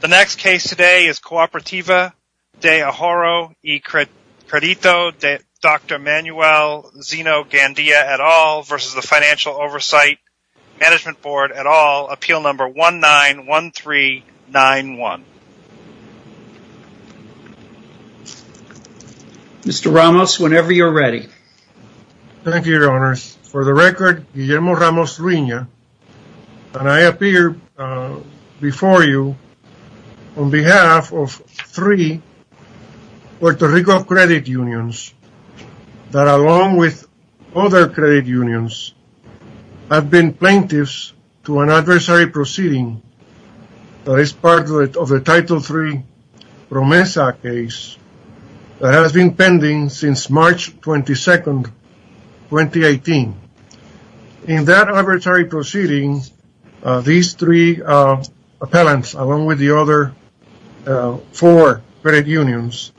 The next case today is COOPERATIVA de Ahorro y Cred. de Dr. Manuel Zeno-Gandia et al. v. the Financial Oversight Management Board et al. Appeal Number 191391. Mr. Ramos, whenever you're ready. Thank you, Your Honors. For the record, Guillermo Ramos Ruina, and I appear before you on behalf of three Puerto Rico credit unions that, along with other credit unions, have been plaintiffs to an adversary proceeding that is part of the Title III PROMESA case that has been pending since March 22nd, 2018. In that adversary proceeding, these three appellants, along with the other four credit unions,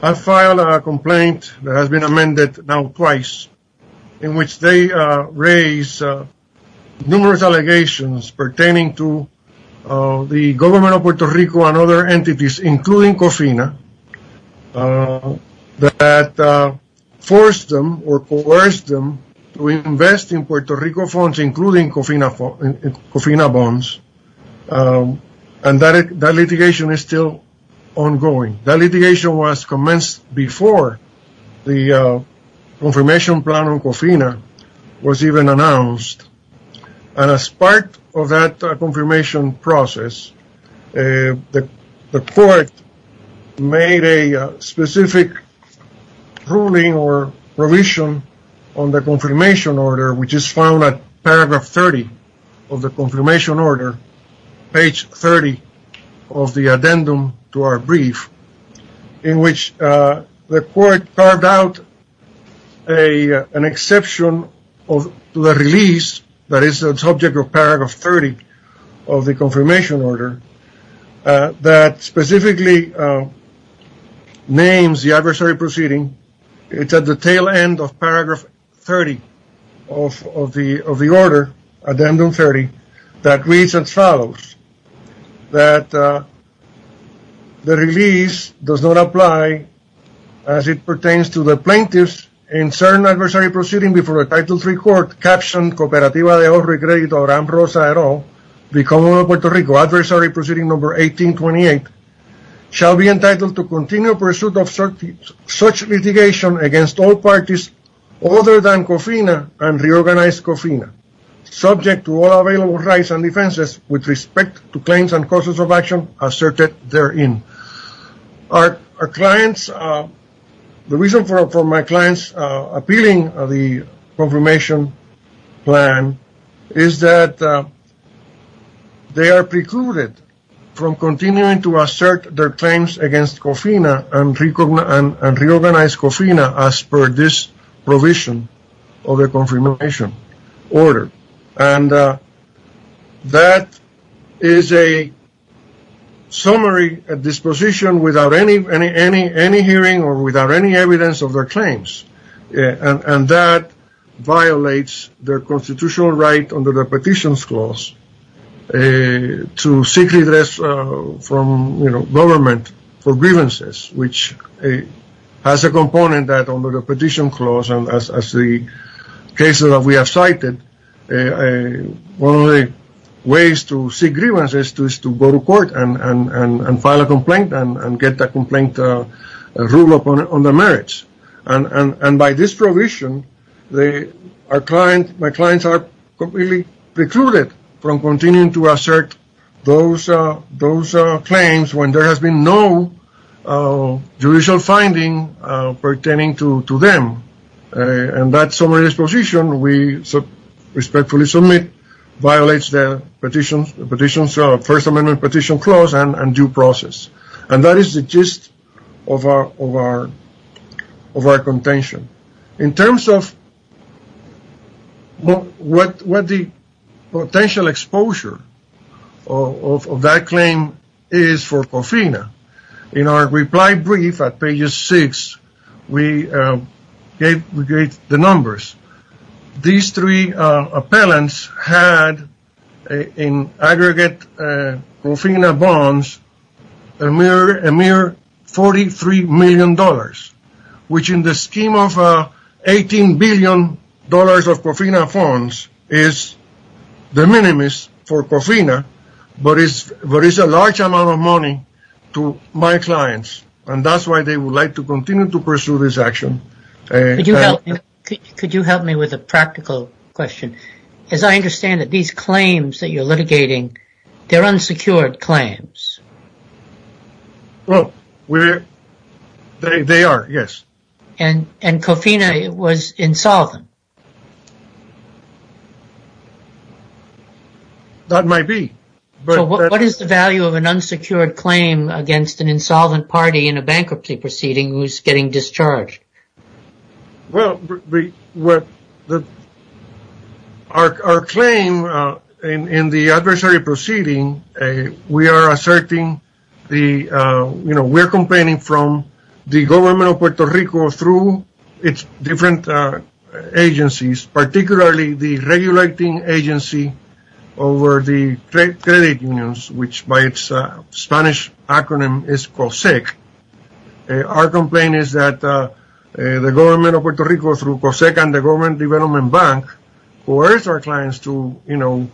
have filed a complaint that has been amended now twice, in which they raise numerous allegations pertaining to the government of Puerto Rico and other entities, including COFINA, that forced them or coerced them to invest in Puerto Rico funds, including COFINA bonds, and that litigation is still ongoing. That litigation was commenced before the confirmation plan on COFINA was even announced, and as part of that confirmation process, the court made a specific ruling or provision on the confirmation order, which is found at paragraph 30 of the confirmation order, page 30 of the addendum to our brief, in which the court carved out an exception to the release that is the subject of paragraph 30 of the confirmation order, that specifically names the adversary proceeding. It's at the tail end of paragraph 30 of the order, addendum 30, that reads as follows, that the release does not apply as it pertains to the plaintiffs in certain adversary proceeding before a Title III court, captioned Cooperativa de Horror y Crédito Ramrosa et al., the Commonwealth of Puerto Rico, adversary proceeding number 1828, shall be entitled to continue pursuit of such litigation against all parties other than COFINA and reorganized COFINA, subject to all available rights and defenses with respect to claims and causes of action asserted therein. Our clients, the reason for my clients appealing the confirmation plan is that they are precluded from continuing to assert their claims against COFINA and reorganized COFINA as per this provision of the confirmation order. And that is a summary disposition without any hearing or without any evidence of their claims. And that violates their constitutional right under the Petitions Clause to seek redress from government for grievances, which has a component that under the Petition Clause and as the cases that we have cited, one of the ways to seek grievances is to go to court and file a complaint and get the complaint ruled upon on the merits. And by this provision, my clients are completely precluded from continuing to assert those claims when there has been no judicial finding pertaining to them. And that summary disposition, we respectfully submit, violates the Petitions, First Amendment Petition Clause and due process. And that is the gist of our contention. In terms of what the potential exposure of that claim is for COFINA, in our reply brief at page 6, we gave the numbers. These three appellants had in aggregate COFINA bonds a mere $43 million, which in the scheme of $18 billion of COFINA funds is the minimus for COFINA, but it's a large amount of money to my clients. And that's why they would like to continue to pursue this action. Could you help me with a practical question? As I understand it, these claims that you're litigating, they're unsecured claims. Well, they are, yes. And COFINA was insolvent? That might be. So what is the value of an unsecured claim against an insolvent party in a bankruptcy proceeding who's getting discharged? Well, our claim in the adversary proceeding, we are asserting the, you know, we're complaining from the government of Puerto Rico through its different agencies, particularly the regulating agency over the credit unions, which by its Spanish acronym is COSEC. Our complaint is that the government of Puerto Rico through COSEC and the government development bank coerced our clients to, you know,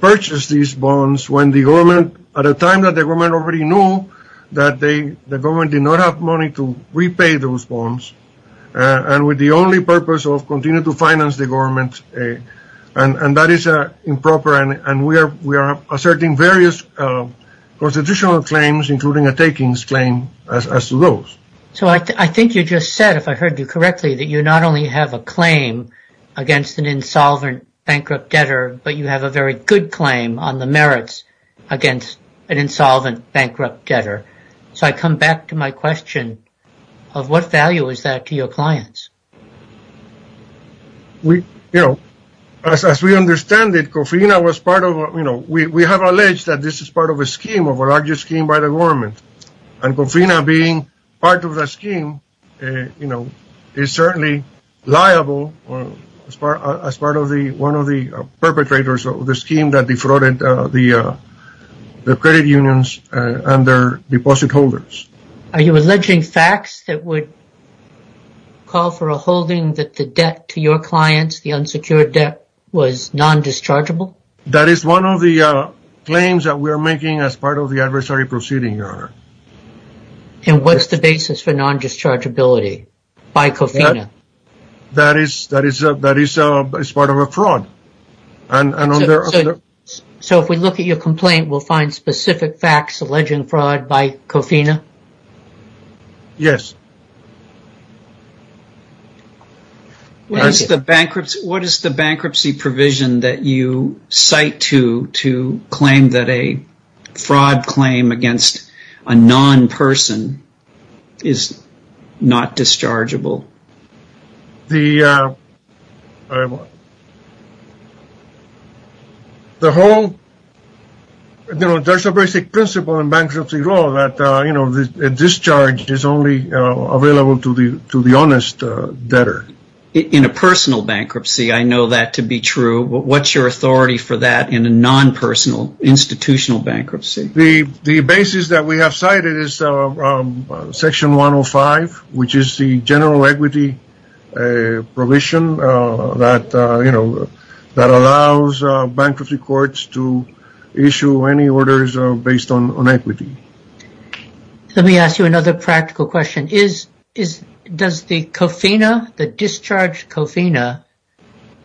purchase these bonds when the government, at a time that the government already knew that the government did not have money to repay those bonds and with the only purpose of continue to finance the government. And that is improper. And we are asserting various constitutional claims, including a takings claim as to those. So I think you just said, if I heard you correctly, that you not only have a claim against an insolvent bankrupt debtor, you have a very good claim on the merits against an insolvent bankrupt debtor. So I come back to my question of what value is that to your clients? We you know, as we understand it, COFINA was part of, you know, we have alleged that this is part of a scheme of a larger scheme by the government. And COFINA being part of the scheme, you know, is certainly liable as far as part of the perpetrators of the scheme that defrauded the credit unions and their deposit holders. Are you alleging facts that would call for a holding that the debt to your clients, the unsecured debt, was non-dischargeable? That is one of the claims that we are making as part of the adversary proceeding, Your Honor. And what's the basis for non-dischargeability by COFINA? That is, that is, that is a part of a fraud. And so if we look at your complaint, we'll find specific facts alleging fraud by COFINA? Yes. What is the bankruptcy? What is the bankruptcy provision that you cite to to claim that a fraud claim against a non-person is not dischargeable? The whole, you know, there's a basic principle in bankruptcy law that, you know, a discharge is only available to the honest debtor. In a personal bankruptcy, I know that to be true. What's your authority for that in a non-personal institutional bankruptcy? The basis that we have cited is Section 105, which is the general equity provision that, you know, that allows bankruptcy courts to issue any orders based on equity. Let me ask you another practical question. Is, is, does the COFINA, the discharged COFINA,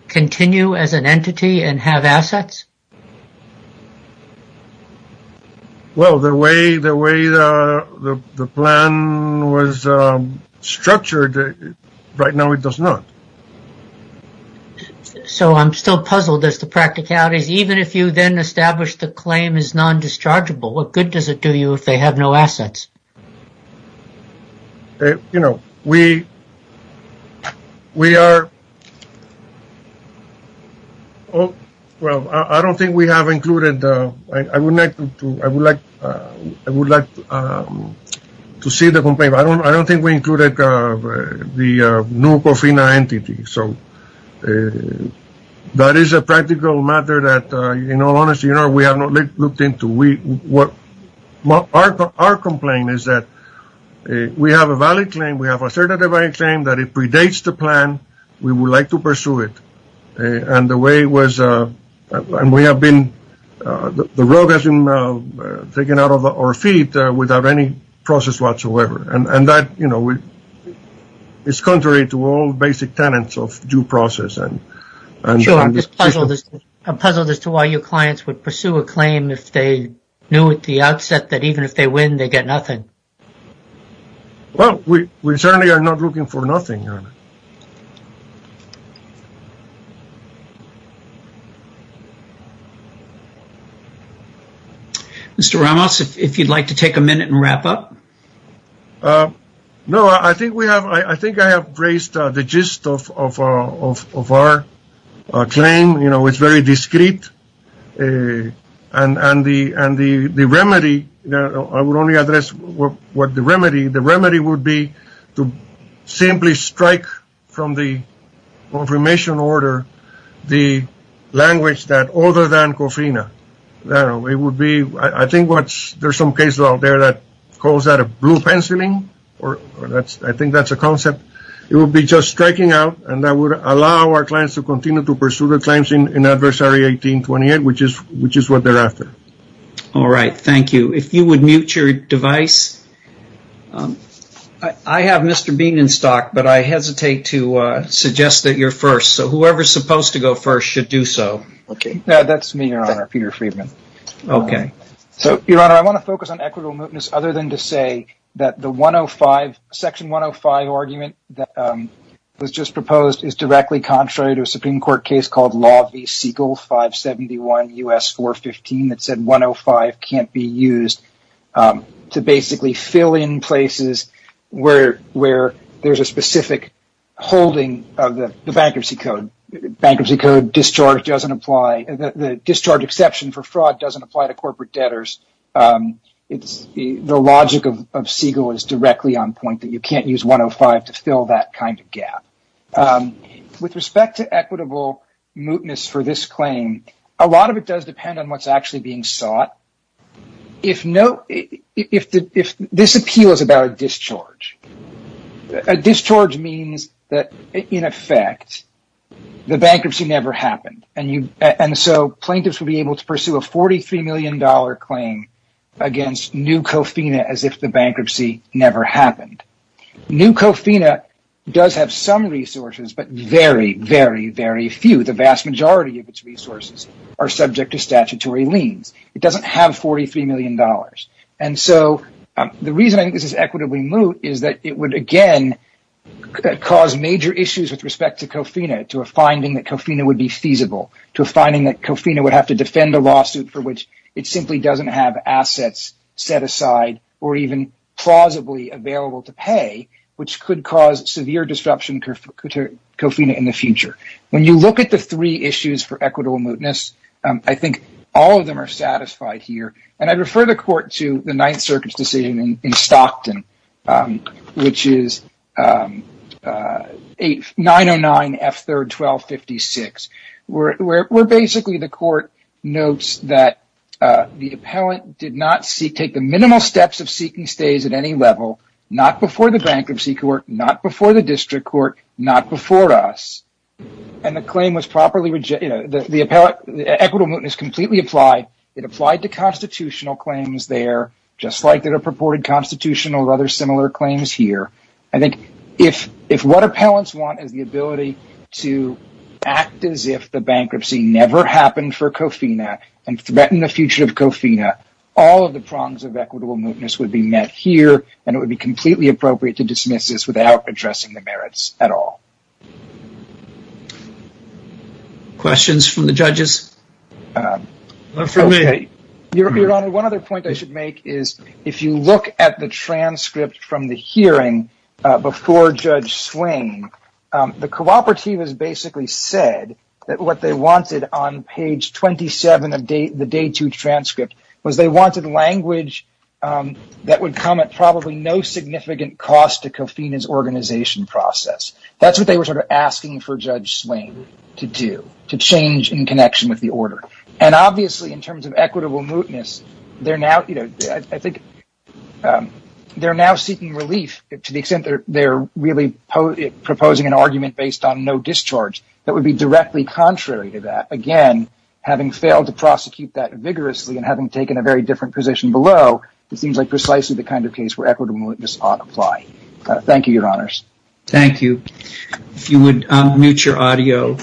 continue as an entity and have assets? Well, the way, the way the plan was structured right now, it does not. So I'm still puzzled as to practicalities, even if you then establish the claim is non-dischargeable, what good does it do you if they have no assets? You know, we, we are, Oh, well, I don't think we have included, I would like to, I would like, I would like to see the complaint. I don't, I don't think we included the new COFINA entity. So that is a practical matter that, you know, honestly, you know, we have not looked into. We, what our, our complaint is that we have a valid claim. We have a certain claim that it predates the plan. We would like to pursue it. And the way it was, and we have been, the road has been taken out of our feet without any process whatsoever. And, and that, you know, we, it's contrary to all basic tenets of due process. And I'm just puzzled as to why your clients would pursue a claim if they knew at the outset that even if they win, they get nothing. Well, we, we certainly are not looking for nothing. Mr. Ramos, if you'd like to take a minute and wrap up. No, I think we have, I think I have raised the gist of, of, of, of our claim. You know, it's very discreet. And, and the, and the, the remedy, I would only address what, what the remedy, the remedy would be to simply strike from the confirmation order, the language that other than Covina, I don't know, it would be, I think what's, there's some cases out there that calls that a blue penciling. Or that's, I think that's a concept. It would be just striking out and that would allow our clients to continue to pursue the claims in, in adversary 1828, which is, which is what they're after. All right. Thank you. If you would mute your device, I have Mr. Bean in stock, but I hesitate to suggest that you're first. So whoever's supposed to go first should do so. Okay. That's me, your honor, Peter Friedman. Okay. So your honor, I want to focus on equitable mootness other than to say that the 105, section 105 argument that was just proposed is directly contrary to a Supreme Court case called Law v. Siegel, 571 U.S. 415 that said 105 can't be used to basically fill in places where, where there's a specific holding of the bankruptcy code. Bankruptcy code discharge doesn't apply. The discharge exception for fraud doesn't apply to corporate debtors. It's the logic of, of Siegel is directly on point that you can't use 105 to fill that kind of gap. With respect to equitable mootness for this claim, a lot of it does depend on what's actually being sought. If no, if the, if this appeal is about a discharge, a discharge means that in effect, the bankruptcy never happened. And you, and so plaintiffs would be able to pursue a $43 million claim against new COFINA as if the bankruptcy never happened. New COFINA does have some resources, but very, very, very few. The vast majority of its resources are subject to statutory liens. It doesn't have $43 million. And so the reason I think this is equitably moot is that it would again cause major issues with respect to COFINA, to a finding that COFINA would be feasible, to a finding that COFINA would have to defend a lawsuit for which it simply doesn't have assets set pay, which could cause severe disruption to COFINA in the future. When you look at the three issues for equitable mootness, I think all of them are satisfied here. And I refer the court to the Ninth Circuit's decision in Stockton, which is 909 F3rd 1256, where basically the court notes that the appellant did not seek, take the minimal steps of the bankruptcy court, not before the district court, not before us. And the claim was properly, you know, the appellant, the equitable mootness completely applied. It applied to constitutional claims there, just like there are purported constitutional rather similar claims here. I think if what appellants want is the ability to act as if the bankruptcy never happened for COFINA and threaten the future of COFINA, all of the prongs of equitable mootness would be met here. And it would be completely appropriate to dismiss this without addressing the merits at all. Questions from the judges? Your Honor, one other point I should make is if you look at the transcript from the hearing before Judge Swain, the cooperative has basically said that what they wanted on page 27 of the day two transcript was they wanted language that would come at probably no significant cost to COFINA's organization process. That's what they were sort of asking for Judge Swain to do, to change in connection with the order. And obviously in terms of equitable mootness, they're now, you know, I think they're now seeking relief to the extent that they're really proposing an argument based on no discharge that would be directly contrary to that. Again, having failed to prosecute that vigorously and having taken a very different position below, it seems like precisely the kind of case where equitable mootness ought to apply. Thank you, Your Honors. Thank you. If you would mute your audio.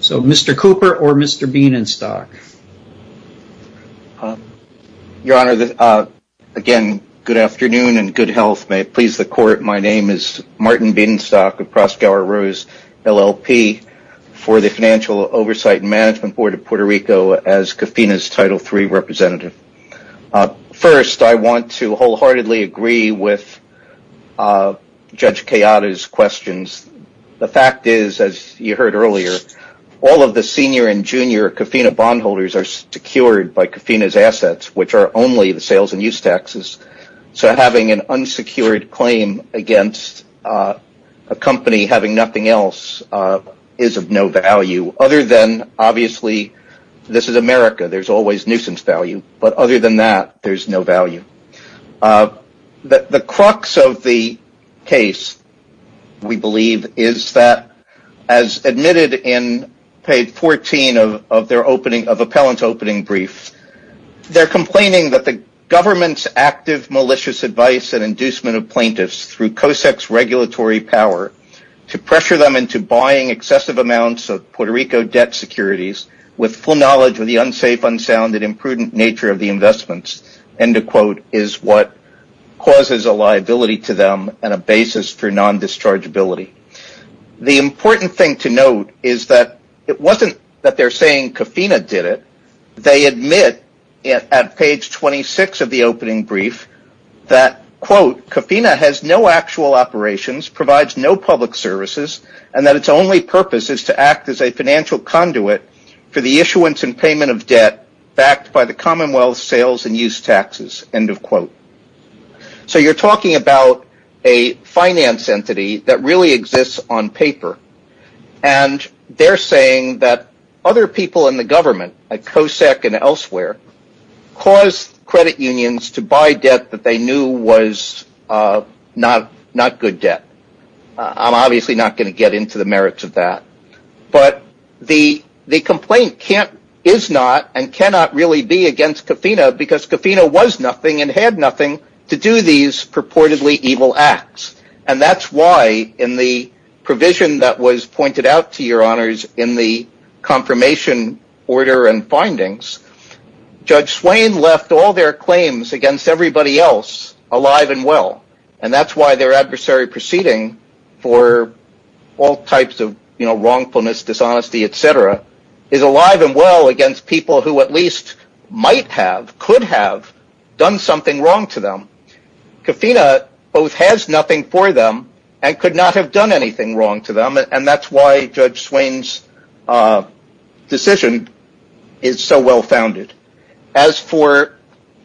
So Mr. Cooper or Mr. Bienenstock. Your Honor, again, good afternoon and good health. May it please the court. My name is Martin Bienenstock of Proskauer Rose, LLP for the Financial Oversight and Management Board of Puerto Rico as COFINA's Title III representative. First, I want to wholeheartedly agree with Judge Kayada's questions. The fact is, as you heard earlier, all of the senior and junior COFINA bondholders are secured by COFINA's assets, which are only the sales and use taxes. So having an unsecured claim against a company having nothing else is of no value other than, obviously, this is America. There's always nuisance value. But other than that, there's no value. The crux of the case, we believe, is that as admitted in page 14 of their appellant opening brief, they're complaining that the government's active malicious advice and inducement of plaintiffs through COSEC's regulatory power to pressure them into buying excessive amounts of Puerto Rico debt securities with full knowledge of the unsafe, unsound, and imprudent nature of the investments, end of quote, is what causes a liability to them and a basis for non-dischargeability. The important thing to note is that it wasn't that they're saying COFINA did it. They admit at page 26 of the opening brief that, quote, COFINA has no actual operations, provides no public services, and that its only purpose is to act as a financial conduit for the issuance and payment of debt backed by the Commonwealth sales and use taxes, end of quote. So you're talking about a finance entity that really exists on paper. And they're saying that other people in the government, like COSEC and elsewhere, caused credit unions to buy debt that they knew was not good debt. I'm obviously not going to get into the merits of that. But the complaint is not and cannot really be against COFINA because COFINA was nothing and had nothing to do these purportedly evil acts. And that's why in the provision that was pointed out to your honors in the confirmation order and findings, Judge Swain left all their claims against everybody else alive and well. And that's why their adversary proceeding for all types of wrongfulness, dishonesty, is alive and well against people who at least might have, could have done something wrong to them. COFINA both has nothing for them and could not have done anything wrong to them. And that's why Judge Swain's decision is so well founded. As for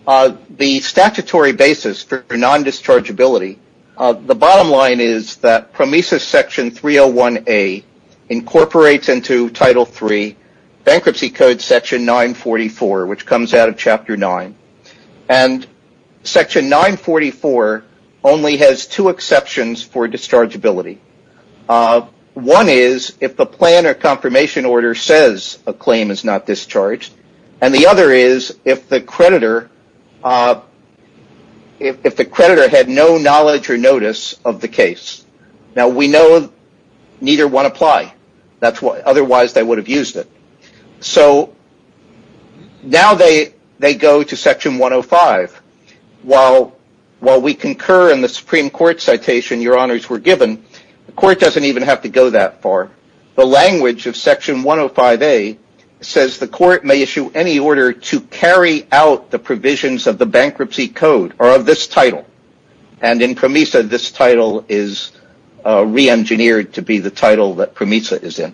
the statutory basis for non-dischargeability, the bottom line is that bankruptcy code section 944, which comes out of chapter 9. And section 944 only has two exceptions for dischargeability. One is if the plan or confirmation order says a claim is not discharged. And the other is if the creditor had no knowledge or notice of the case. Now we know neither one apply. Otherwise they would have used it. So now they go to section 105. While we concur in the Supreme Court citation your honors were given, the court doesn't even have to go that far. The language of section 105a says the court may issue any order to carry out the provisions of the bankruptcy code or of this title. And in PROMESA this title is re-engineered to be the title that PROMESA is in.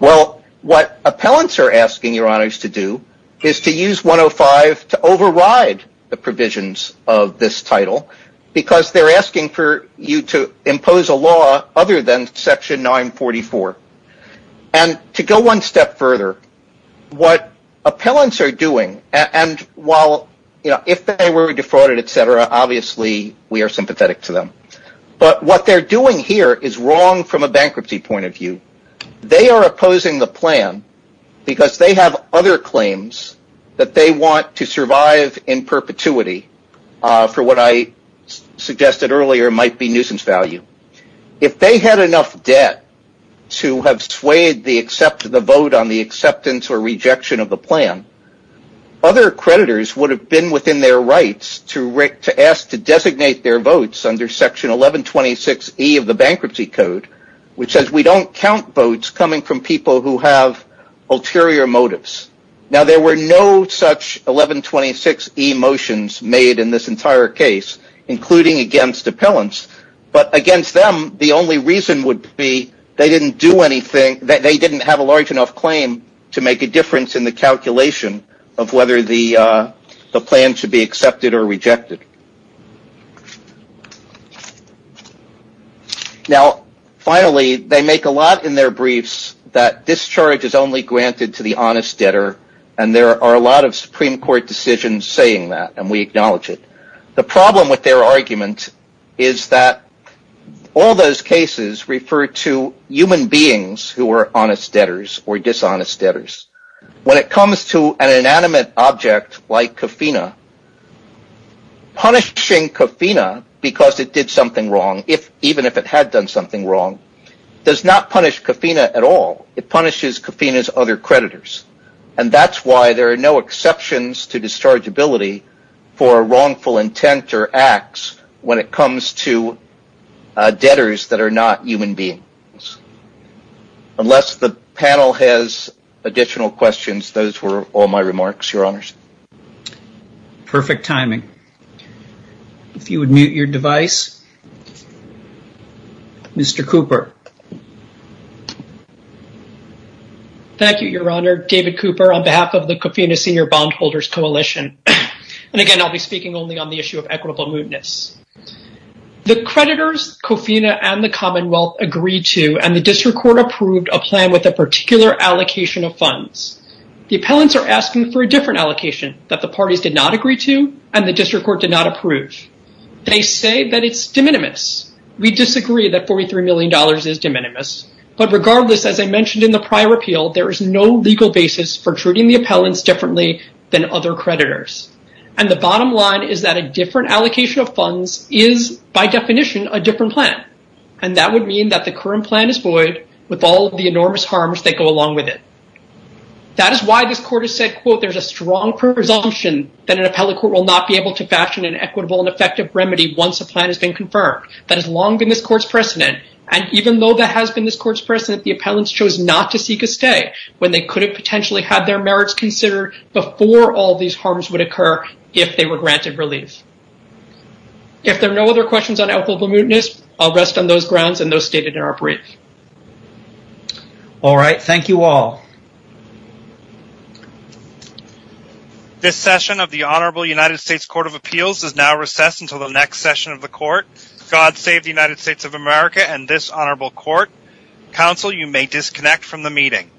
Well, what appellants are asking your honors to do is to use 105 to override the provisions of this title because they're asking for you to impose a law other than section 944. And to go one step further, what appellants are doing and while, you know, if they were defrauded, etc., obviously we are sympathetic to them. But what they're doing here is wrong from a bankruptcy point of view. They are opposing the plan because they have other claims that they want to survive in perpetuity for what I suggested earlier might be nuisance value. If they had enough debt to have swayed the vote on the acceptance or rejection of the plan, other creditors would have been within their rights to ask to designate their votes under section 1126E of the bankruptcy code, which says we don't count votes coming from people who have ulterior motives. Now, there were no such 1126E motions made in this entire case, including against appellants. But against them, the only reason would be they didn't have a large enough claim to make a difference in the calculation of whether the plan should be accepted or rejected. Now, finally, they make a lot in their briefs that discharge is only granted to the honest debtor, and there are a lot of Supreme Court decisions saying that, and we acknowledge it. The problem with their argument is that all those cases refer to human beings who are honest debtors or dishonest debtors. When it comes to an inanimate object like Kofina, punishing Kofina because it did something wrong, even if it had done something wrong, does not punish Kofina at all. It punishes Kofina's other creditors, and that's why there are no exceptions to dischargeability for wrongful intent or acts when it comes to Kofina. Unless the panel has additional questions, those were all my remarks, Your Honors. Perfect timing. If you would mute your device. Mr. Cooper. Thank you, Your Honor. David Cooper on behalf of the Kofina Senior Bondholders Coalition. And again, I'll be speaking only on the issue of equitable mootness. The creditors, Kofina and the Commonwealth agreed to, and the district court approved a plan with a particular allocation of funds. The appellants are asking for a different allocation that the parties did not agree to, and the district court did not approve. They say that it's de minimis. We disagree that $43 million is de minimis. But regardless, as I mentioned in the prior appeal, there is no legal basis for treating the appellants differently than other creditors. And the bottom line is that different allocation of funds is, by definition, a different plan. And that would mean that the current plan is void with all of the enormous harms that go along with it. That is why this court has said, quote, there's a strong presumption that an appellate court will not be able to fashion an equitable and effective remedy once a plan has been confirmed. That has long been this court's precedent. And even though that has been this court's precedent, the appellants chose not to seek a stay when they could have potentially had their merits considered before all these harms would occur if they were granted relief. If there are no other questions on equitable mootness, I'll rest on those grounds and those stated in our brief. All right. Thank you all. This session of the Honorable United States Court of Appeals is now recessed until the next session of the court. God save the United States of America and this honorable court. Counsel, you may disconnect from the meeting.